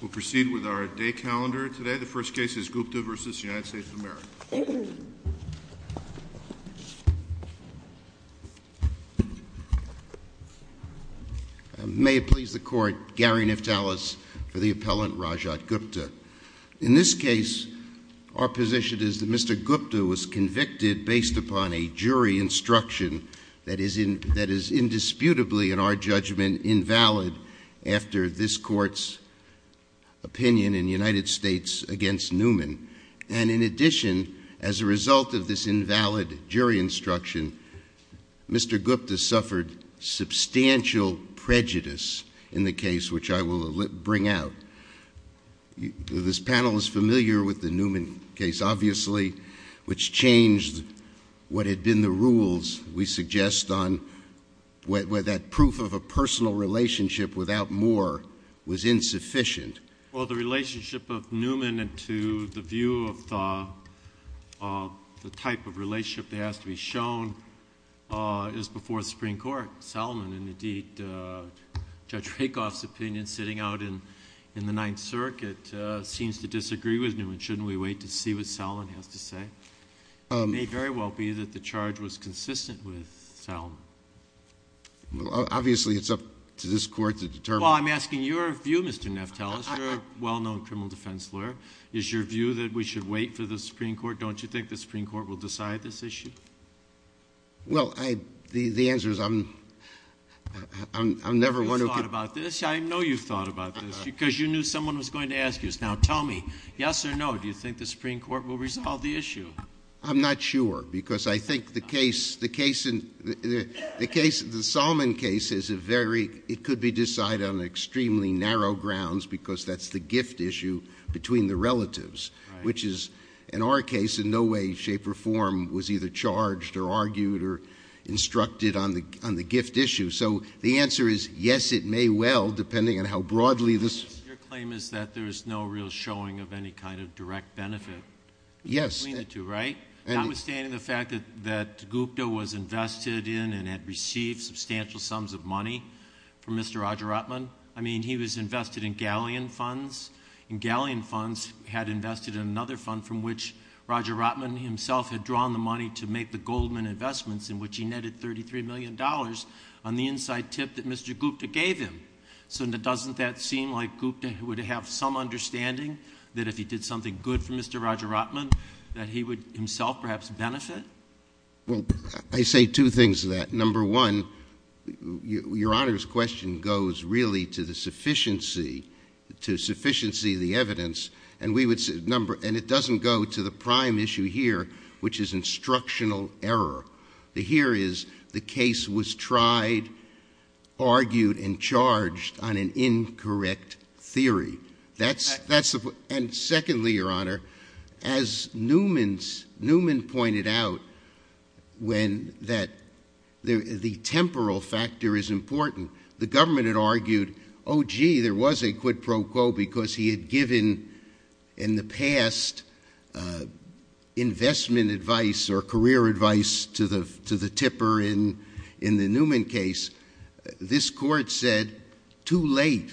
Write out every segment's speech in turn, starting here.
We'll proceed with our day calendar today. The first case is Gupta v. United States of America. May it please the court, Gary Neftalis for the appellant Rajat Gupta. In this case, our position is that Mr. Gupta was convicted based upon a jury instruction that is indisputably, in our judgment, invalid after this court's opinion in the United States against Newman. And in addition, as a result of this invalid jury instruction, Mr. Gupta suffered substantial prejudice in the case which I will bring out. This panel is familiar with the Newman case, obviously, which changed what had been the rules, we suggest, on where that proof of a personal relationship without more was insufficient. Well, the relationship of Newman to the view of the type of relationship that has to be shown is before the Supreme Court. Salomon and, indeed, Judge Rakoff's opinion, sitting out in the Ninth Circuit, seems to disagree with Newman. Shouldn't we wait to see what Salomon has to say? It may very well be that the charge was consistent with Salomon. Well, obviously, it's up to this court to determine. Well, I'm asking your view, Mr. Neftalis, you're a well-known criminal defense lawyer. Is your view that we should wait for the Supreme Court? Don't you think the Supreme Court will decide this issue? Well, the answer is I'm never one who can... You've thought about this. I know you've thought about this because you knew someone was going to ask you this. Now, tell me, yes or no, do you think the Supreme Court will resolve the issue? I'm not sure because I think the case, the case in the case, the Salomon case is a very, it could be decided on extremely narrow grounds because that's the gift issue between the relatives, which is, in our case, in no way, shape, or form was either charged or argued or instructed on the gift issue. So the answer is yes, it may well, depending on how broadly this... There's no real showing of any kind of direct benefit between the two, right? Notwithstanding the fact that Gupta was invested in and had received substantial sums of money from Mr. Roger Rotman. I mean, he was invested in galleon funds, and galleon funds had invested in another fund from which Roger Rotman himself had drawn the money to make the Goldman investments in which he netted $33 million on the inside tip that Mr. Gupta gave him. So doesn't that seem like an understanding that if he did something good for Mr. Roger Rotman, that he would himself perhaps benefit? Well, I say two things to that. Number one, your Honor's question goes really to the sufficiency, to sufficiency of the evidence, and we would say, number, and it doesn't go to the prime issue here, which is instructional error. The here is the case was tried, argued, and charged on an incorrect theory. That's the... And secondly, your Honor, as Newman pointed out, when that... The temporal factor is important. The government had argued, oh gee, there was a quid pro quo because he had given in the past investment advice or career advice to the tipper in the Newman case. This court said too late,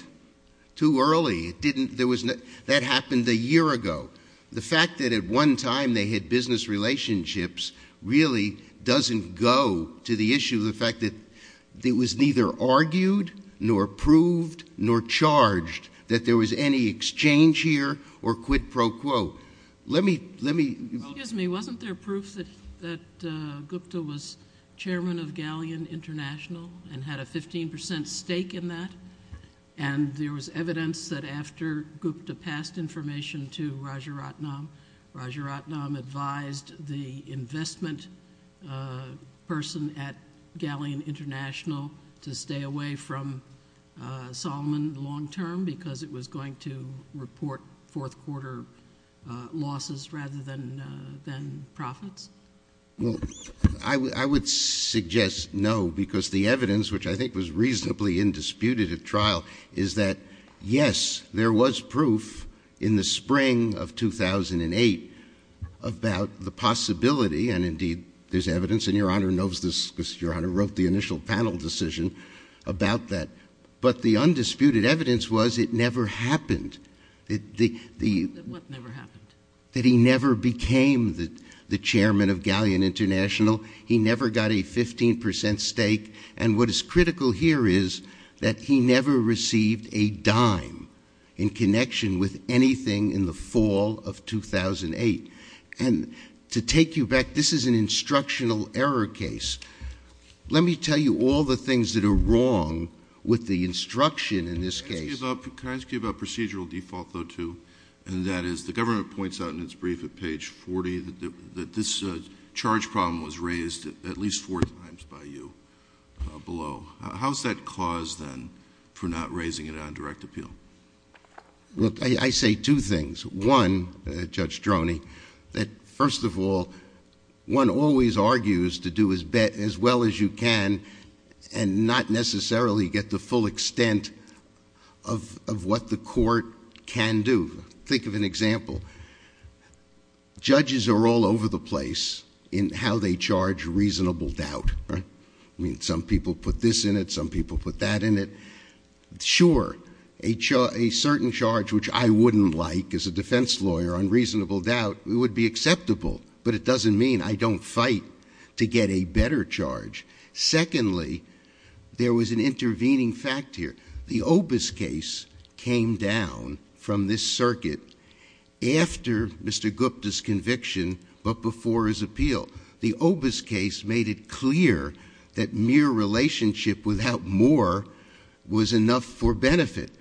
too early. It didn't... There was no... That happened a year ago. The fact that at one time they had business relationships really doesn't go to the issue of the fact that it was neither argued nor proved nor charged that there was any exchange here or quid pro quo. Let me, let me... Gupta was chairman of Galleon International and had a 15% stake in that, and there was evidence that after Gupta passed information to Rajaratnam, Rajaratnam advised the investment person at Galleon International to stay away from Solomon long term because it was going to report fourth quarter losses rather than profits? Well, I would suggest no because the evidence, which I think was reasonably indisputed at trial, is that yes, there was proof in the spring of 2008 about the possibility, and indeed there's evidence, and your Honor knows this because your Honor wrote the initial panel decision about that, but the undisputed evidence was it never happened. That the... That what never happened? That he never became the chairman of Galleon International. He never got a 15% stake, and what is critical here is that he never received a dime in connection with anything in the fall of 2008, and to take you back, this is an instructional error case. Let me tell you all the things that are wrong with the instruction in this case. Can I ask you about procedural default though too, and that is the government points out in its brief at page 40 that this charge problem was raised at least four times by you below. How's that caused then for not raising it on direct appeal? Look, I say two things. One, Judge Droney, that first of all, one always argues to do as well as you can and not necessarily get the full extent of what the court can do. Think of an example. Judges are all over the place in how they charge reasonable doubt, right? I mean, some people put this in it, some people put that in it. Sure, a certain charge which I wouldn't like as a defense lawyer on reasonable doubt, it would be acceptable, but it doesn't mean I don't fight to get a better charge. Secondly, there was an intervening fact here. The Obis case came down from this circuit after Mr. Gupta's conviction, but before his appeal. The Obis case made it clear that mere relationship without more was enough for benefit.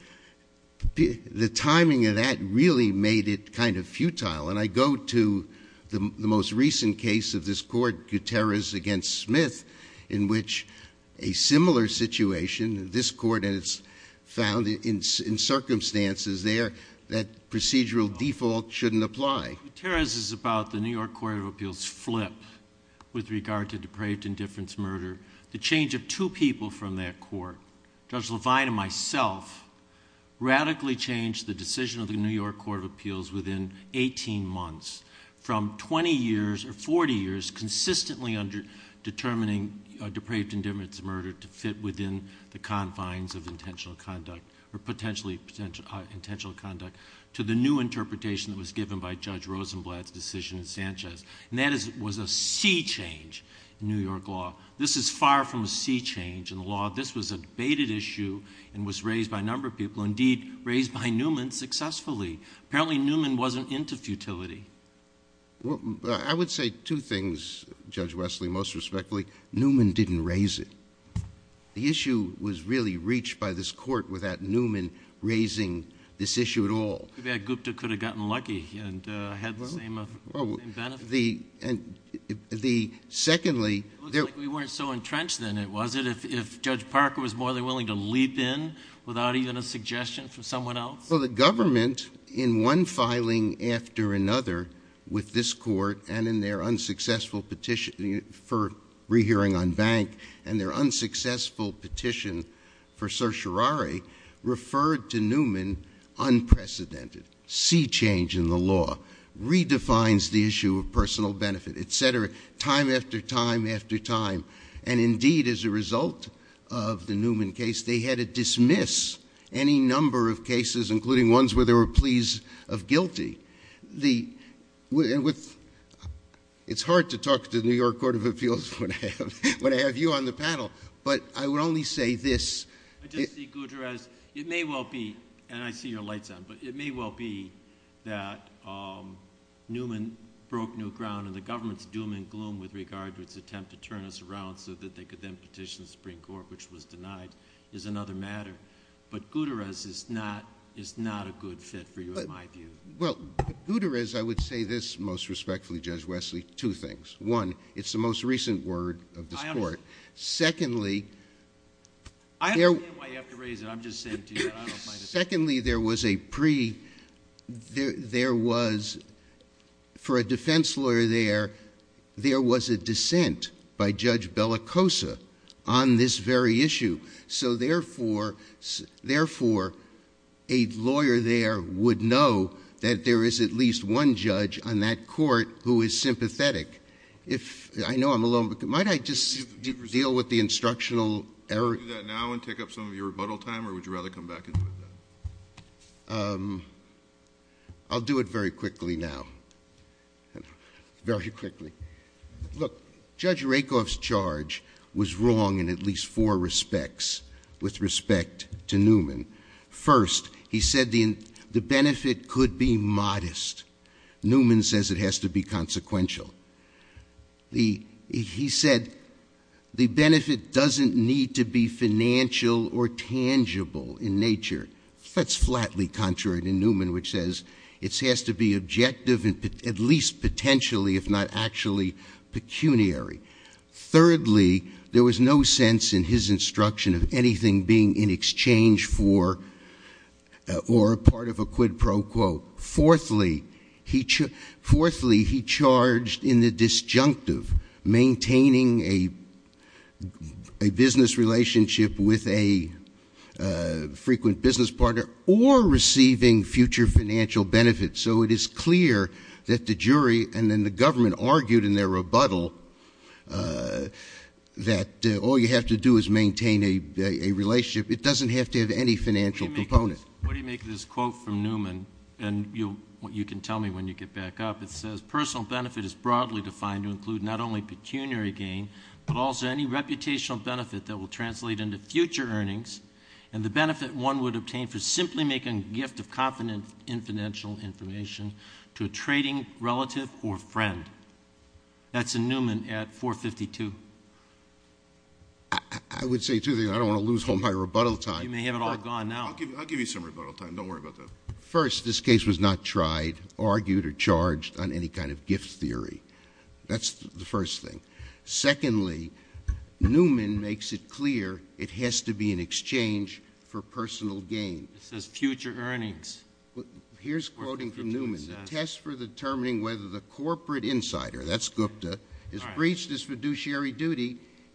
The timing of that really made it kind of futile, and I go to the most recent case of this court, Gutierrez against Smith, in which a similar situation, this court has found in circumstances there that procedural default shouldn't apply. Gutierrez is about the New York Court of Appeals flip with regard to depraved indifference murder. The change of two people from that court, Judge Levine and myself, radically changed the decision of the New York Court of Appeals within 18 months from 20 years or 40 years consistently under determining depraved indifference murder to fit within the confines of intentional conduct, or potentially intentional conduct, to the new interpretation that was given by Judge Rosenblatt's decision in Sanchez, and that was a sea change in New York law. This is far from a sea change in the law. This was a debated issue and was raised by a number of people, indeed raised by Newman successfully. Apparently, Newman wasn't into futility. Well, I would say two things, Judge Wesley, most respectfully. Newman didn't raise it. The issue was really reached by this court without Newman raising this issue at all. Too bad Gupta could have gotten lucky and had the same benefit. Secondly... It looks like we weren't so entrenched in it, was it? If Judge Parker was more than willing to leap in without even a suggestion from someone else? Well, the government in one filing after another with this court and in their unsuccessful petition for rehearing on bank and their unsuccessful petition for certiorari referred to Newman unprecedented. Sea change in law redefines the issue of personal benefit, et cetera, time after time after time. And indeed, as a result of the Newman case, they had to dismiss any number of cases, including ones where they were pleased of guilty. It's hard to talk to the New York Court of Appeals when I have you on the panel, but I would only say this... I just see, Gutierrez, it may well be, and I see your lights on, but it may well be that Newman broke new ground and the government's doom and gloom with regard to its attempt to turn us around so that they could then petition the Supreme Court, which was denied, is another matter. But Gutierrez is not a good fit for you in my view. Well, Gutierrez, I would say this most respectfully, Judge Wesley, two things. One, it's the most recent word of this court. Secondly... I understand why you have to raise it. I'm just saying to you... Secondly, there was a pre... For a defense lawyer there, there was a dissent by Judge Bellicosa on this very issue. So therefore, a lawyer there would know that there is at least one judge on that court who is sympathetic. I know I'm alone, but might I just deal with the instructional error? Do that now and take up some of your time, or would you rather come back and do it then? I'll do it very quickly now. Very quickly. Look, Judge Rakoff's charge was wrong in at least four respects with respect to Newman. First, he said the benefit could be modest. Newman says it has to be consequential. The... He said the benefit doesn't need to be financial or tangible in nature. That's flatly contrary to Newman, which says it has to be objective and at least potentially, if not actually pecuniary. Thirdly, there was no sense in his instruction of anything being in exchange for or a part of a quid pro quo. Fourthly, he charged in the disjunctive, maintaining a business relationship with a frequent business partner or receiving future financial benefits. So it is clear that the jury and then the government argued in their rebuttal that all you have to do is maintain a relationship. It doesn't have to have any financial component. What do you make of this quote from Newman? And you can tell me when you get back up. It says, personal benefit is broadly defined to include not only pecuniary gain, but also any reputational benefit that will translate into future earnings and the benefit one would obtain for simply making a gift of confidential information to a trading relative or friend. That's a Newman at 452. I would say two things. I don't want to lose all my rebuttal time. You may have it all gone now. I'll give you some rebuttal time. Don't worry about that. First, this case was not tried, argued, or charged on any kind of gift theory. That's the first thing. Secondly, Newman makes it clear it has to be in exchange for personal gain. It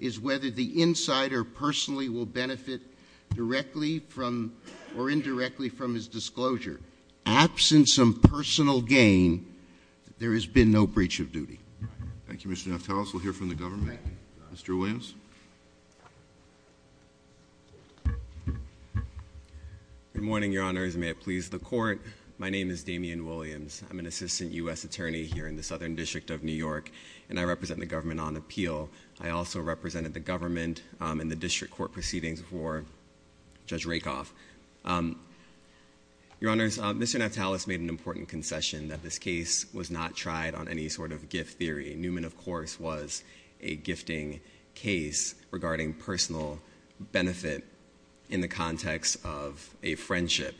is whether the insider will benefit directly or indirectly from his disclosure. Absence of personal gain, there has been no breach of duty. Thank you, Mr. Neftalis. We'll hear from the government. Mr. Williams? Good morning, Your Honors. May it please the Court. My name is John Williams. I represent the government on appeal. I also represented the government in the district court proceedings before Judge Rakoff. Your Honors, Mr. Neftalis made an important concession that this case was not tried on any sort of gift theory. Newman, of course, was a gifting case regarding personal benefit in the context of a friendship.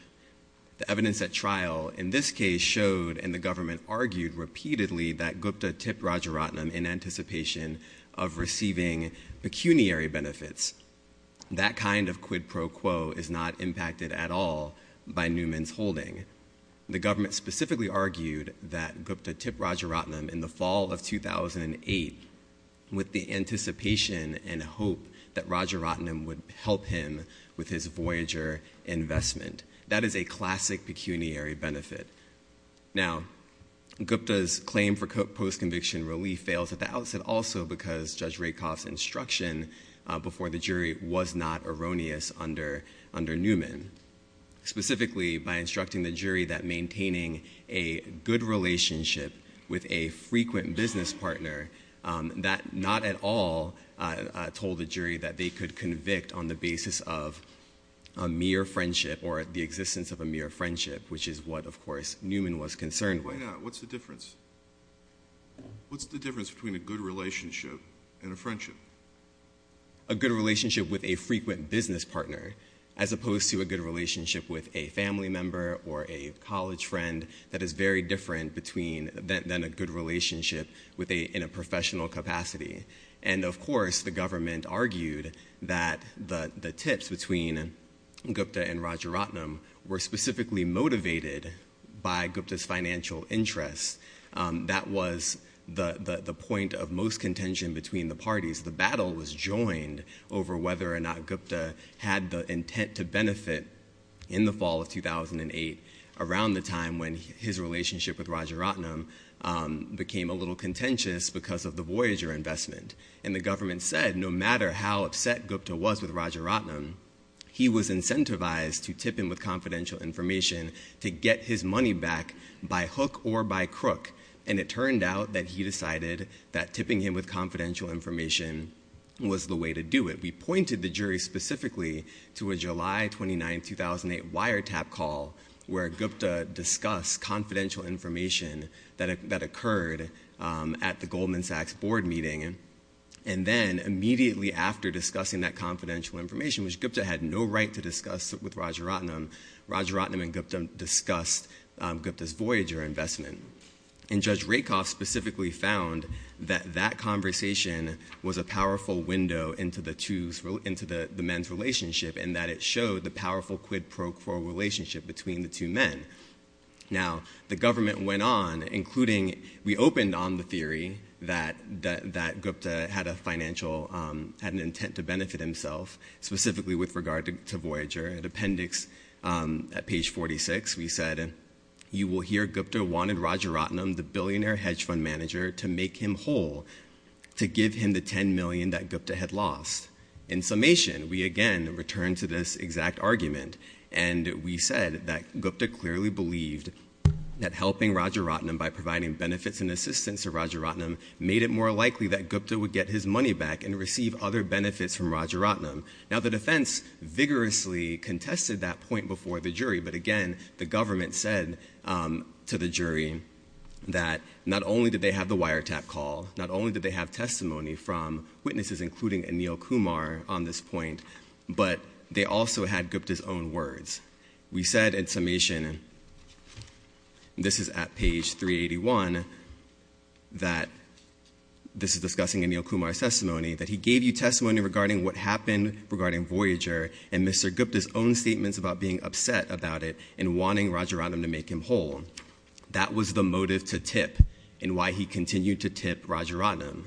The evidence at trial in this case showed, and the government argued repeatedly, that Gupta tipped Rajaratnam in anticipation of receiving pecuniary benefits. That kind of quid pro quo is not impacted at all by Newman's holding. The government specifically argued that Gupta tipped Rajaratnam in the fall of 2008 with the anticipation and hope that Rajaratnam would help him with his Voyager investment. That is a classic pecuniary benefit. Now, Gupta's claim for post-conviction relief fails at the outset also because Judge Rakoff's instruction before the jury was not erroneous under Newman, specifically by instructing the jury that maintaining a good relationship with a frequent business partner that not at all told the jury that they could convict on the basis of or the existence of a mere friendship, which is what, of course, Newman was concerned with. Why not? What's the difference? What's the difference between a good relationship and a friendship? A good relationship with a frequent business partner, as opposed to a good relationship with a family member or a college friend that is very different than a good relationship in a Gupta and Rajaratnam were specifically motivated by Gupta's financial interests. That was the point of most contention between the parties. The battle was joined over whether or not Gupta had the intent to benefit in the fall of 2008 around the time when his relationship with Rajaratnam became a little contentious because of the Voyager investment. The government said, no matter how upset Gupta was with Rajaratnam, he was incentivized to tip him with confidential information to get his money back by hook or by crook. It turned out that he decided that tipping him with confidential information was the way to do it. We pointed the jury specifically to a July 29, 2008 wiretap call where Gupta discussed confidential information that occurred at the Goldman Sachs board meeting. Then immediately after discussing that confidential information, which Gupta had no right to discuss with Rajaratnam, Rajaratnam and Gupta discussed Gupta's Voyager investment. Judge Rakoff specifically found that that conversation was a powerful window into the men's relationship and that it showed the powerful quid pro quo relationship between the two men. Now, the government went on, including, we opened on the theory that Gupta had an intent to benefit himself, specifically with regard to Voyager. At appendix, at page 46, we said, you will hear Gupta wanted Rajaratnam, the billionaire hedge fund manager, to make him whole, to give him the $10 million that Gupta had lost. In summation, we again return to this exact argument and we said that Gupta clearly believed that helping Rajaratnam by providing benefits and assistance to Rajaratnam made it more likely that Gupta would get his money back and receive other benefits from Rajaratnam. Now, the defense vigorously contested that point before the jury, but again, the government said to the jury that not only did they have the wiretap call, not only did they have testimony from witnesses including Anil Kumar on this point, but they also had Gupta's own words. We said in summation, this is at page 381, that this is discussing Anil Kumar's testimony, that he gave you testimony regarding what happened regarding Voyager and Mr. Gupta's own statements about being upset about it and wanting Rajaratnam to make him whole. That was the motive to tip and why he continued to tip Mr. Rajaratnam.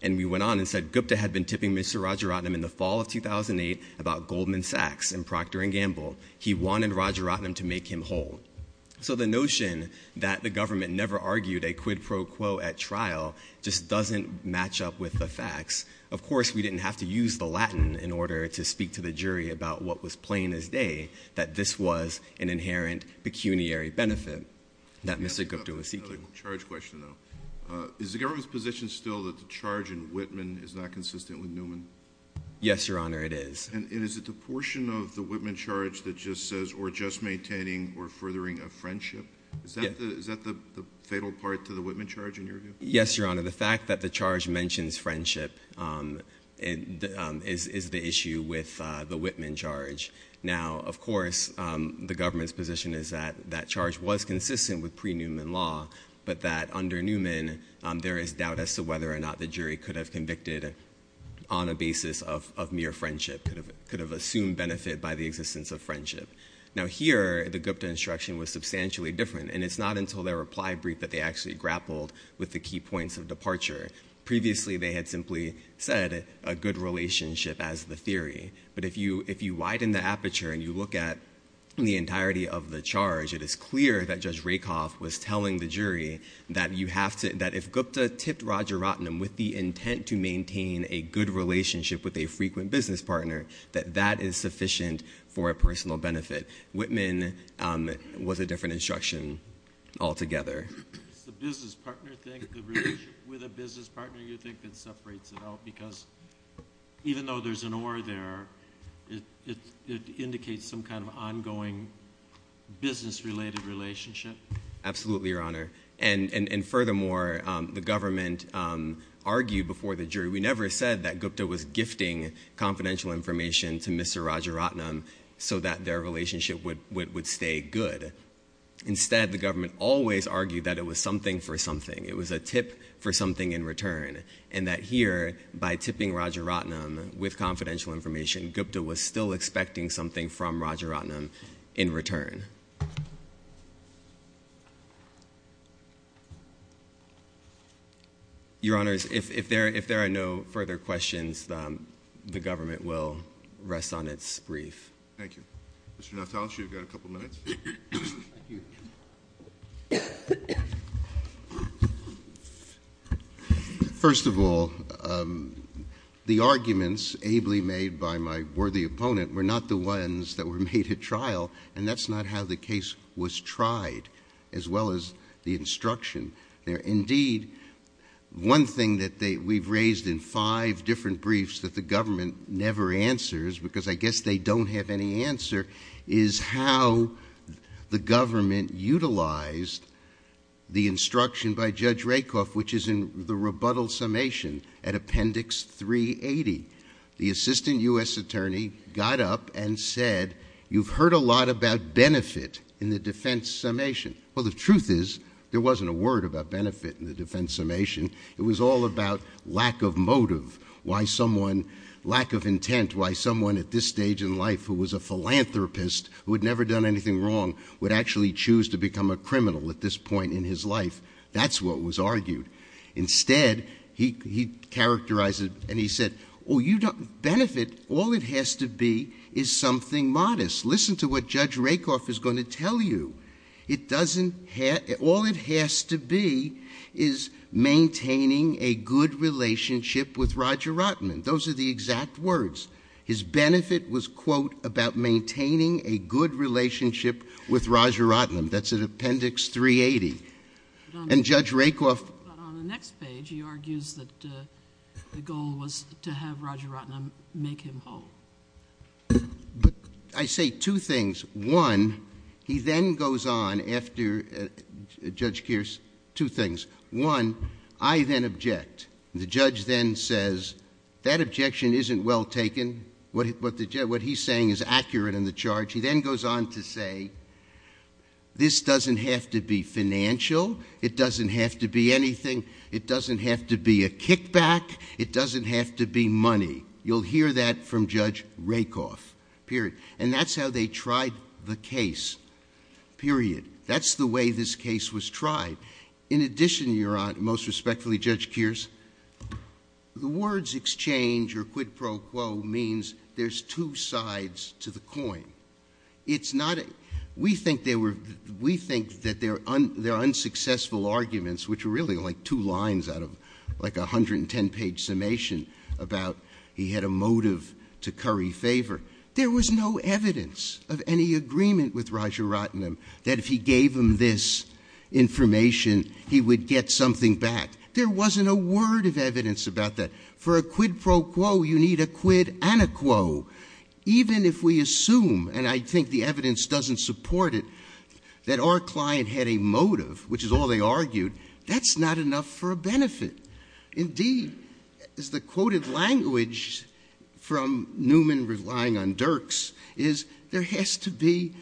And we went on and said Gupta had been tipping Mr. Rajaratnam in the fall of 2008 about Goldman Sachs and Procter and Gamble. He wanted Rajaratnam to make him whole. So the notion that the government never argued a quid pro quo at trial just doesn't match up with the facts. Of course, we didn't have to use the Latin in order to speak to the jury about what was plain as day, that this was an inherent pecuniary benefit that Mr. Gupta was seeking. Another charge question though. Is the government's position still that the charge in Whitman is not consistent with Newman? Yes, Your Honor, it is. And is it the portion of the Whitman charge that just says, or just maintaining or furthering a friendship? Is that the fatal part to the Whitman charge in your view? Yes, Your Honor. The fact that the charge mentions friendship is the issue with the Whitman charge. Now, of course, the government's position is that that under Newman, there is doubt as to whether or not the jury could have convicted on a basis of mere friendship, could have assumed benefit by the existence of friendship. Now here, the Gupta instruction was substantially different, and it's not until their reply brief that they actually grappled with the key points of departure. Previously, they had simply said a good relationship as the theory. But if you widen the aperture and you look at the entirety of the charge, it is clear that Judge Rakoff was telling the jury that if Gupta tipped Roger Rottenham with the intent to maintain a good relationship with a frequent business partner, that that is sufficient for a personal benefit. Whitman was a different instruction altogether. Does the relationship with a business partner you think that separates it out? Because even though there's an aura there, it indicates some kind of ongoing business-related relationship. Absolutely, Your Honor. And furthermore, the government argued before the jury, we never said that Gupta was gifting confidential information to Mr. Roger Rottenham so that their relationship would stay good. Instead, the government always argued that it was something something. It was a tip for something in return. And that here, by tipping Roger Rottenham with confidential information, Gupta was still expecting something from Roger Rottenham in return. Your Honors, if there are no further questions, the government will rest on its brief. Thank you. Mr. Natales, you've got a couple minutes. First of all, the arguments ably made by my worthy opponent were not the ones that were made at trial, and that's not how the case was tried, as well as the instruction. Indeed, one thing that we've raised in five different briefs that the government never answers, because I guess they don't have any answer, is how the government utilized the instruction by Judge Rakoff, which is in the rebuttal summation at Appendix 380. The assistant U.S. attorney got up and said, you've heard a lot about benefit in the defense summation. Well, the truth is, there wasn't a word about benefit in the defense summation. It was all about lack of motive, why someone, lack of intent, why someone at this stage in life who was a philanthropist, who had never done anything wrong, would actually choose to become a criminal at this point in his life. That's what was argued. Instead, he characterized it and he said, oh, you don't, benefit, all it has to be is something modest. Listen to what Judge Rakoff is going to tell you. It doesn't have, all it has to be is maintaining a good relationship with Roger Rotman. Those are the exact words. His benefit was, quote, about maintaining a good relationship with Roger Rotman. That's in Appendix 380. And Judge Rakoff. But on the next page, he argues that the goal was to have Roger Rotman make him whole. But I say two things. One, he then goes on after Judge Kearse, two things. One, I then object. The judge then says, that objection isn't well taken. What he's saying is accurate in the charge. He then goes on to say, this doesn't have to be financial. It doesn't have to be anything. It doesn't have to be a money. You'll hear that from Judge Rakoff. Period. And that's how they tried the case. Period. That's the way this case was tried. In addition, your Honor, most respectfully, Judge Kearse, the words exchange or quid pro quo means there's two sides to the coin. It's not, we think they were, we think that they're unsuccessful arguments, which are really two lines out of a 110 page summation about he had a motive to curry favor. There was no evidence of any agreement with Roger Rotman that if he gave him this information, he would get something back. There wasn't a word of evidence about that. For a quid pro quo, you need a quid ana quo. Even if we assume, and I think the evidence doesn't support it, that our client had a motive, which is all they argued, that's not enough for a benefit. Indeed, as the quoted language from Newman, relying on Dirks, is there has to be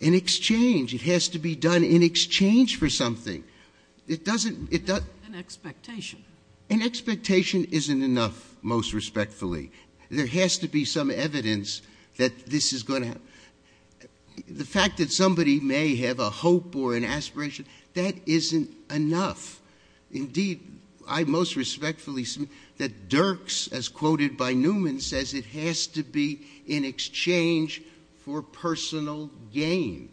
an exchange. It has to be done in exchange for something. It doesn't, it doesn't. An expectation. An expectation isn't enough, most respectfully. There has to be some evidence that this is going to, the fact that somebody may have a hope or an expectation, that isn't enough. Indeed, I most respectfully, that Dirks, as quoted by Newman, says it has to be in exchange for personal gain.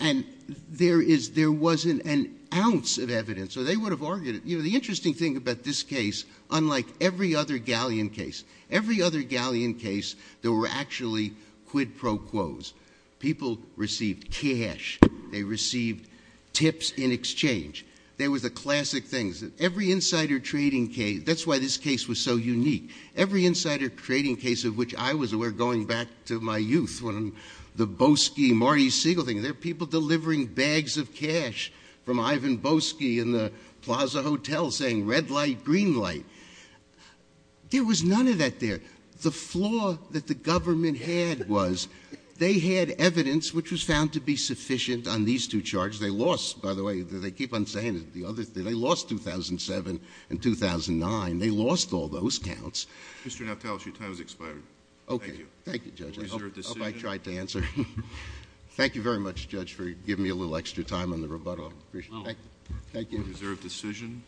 And there is, there wasn't an ounce of evidence, or they would have argued it. You know, the interesting thing about this case, unlike every other galleon case, every other galleon case, there were actually quid pro quos. People received cash. They received tips in exchange. There was a classic thing. Every insider trading case, that's why this case was so unique. Every insider trading case of which I was aware, going back to my youth, when the Boesky, Marty Siegel thing, there were people delivering bags of cash from Ivan Boesky in the Plaza Hotel saying, red light, green light. There was none of that there. The flaw that the government had was they had evidence which was found to be sufficient on these two charges. They lost, by the way, they keep on saying it, the other thing, they lost 2007 and 2009. They lost all those counts. Mr. Nautalus, your time has expired. Okay. Thank you, Judge. I hope I tried to answer. Thank you very much, Judge, for giving me a little extra time on the rebuttal. Appreciate it. Thank you. Reserve decision.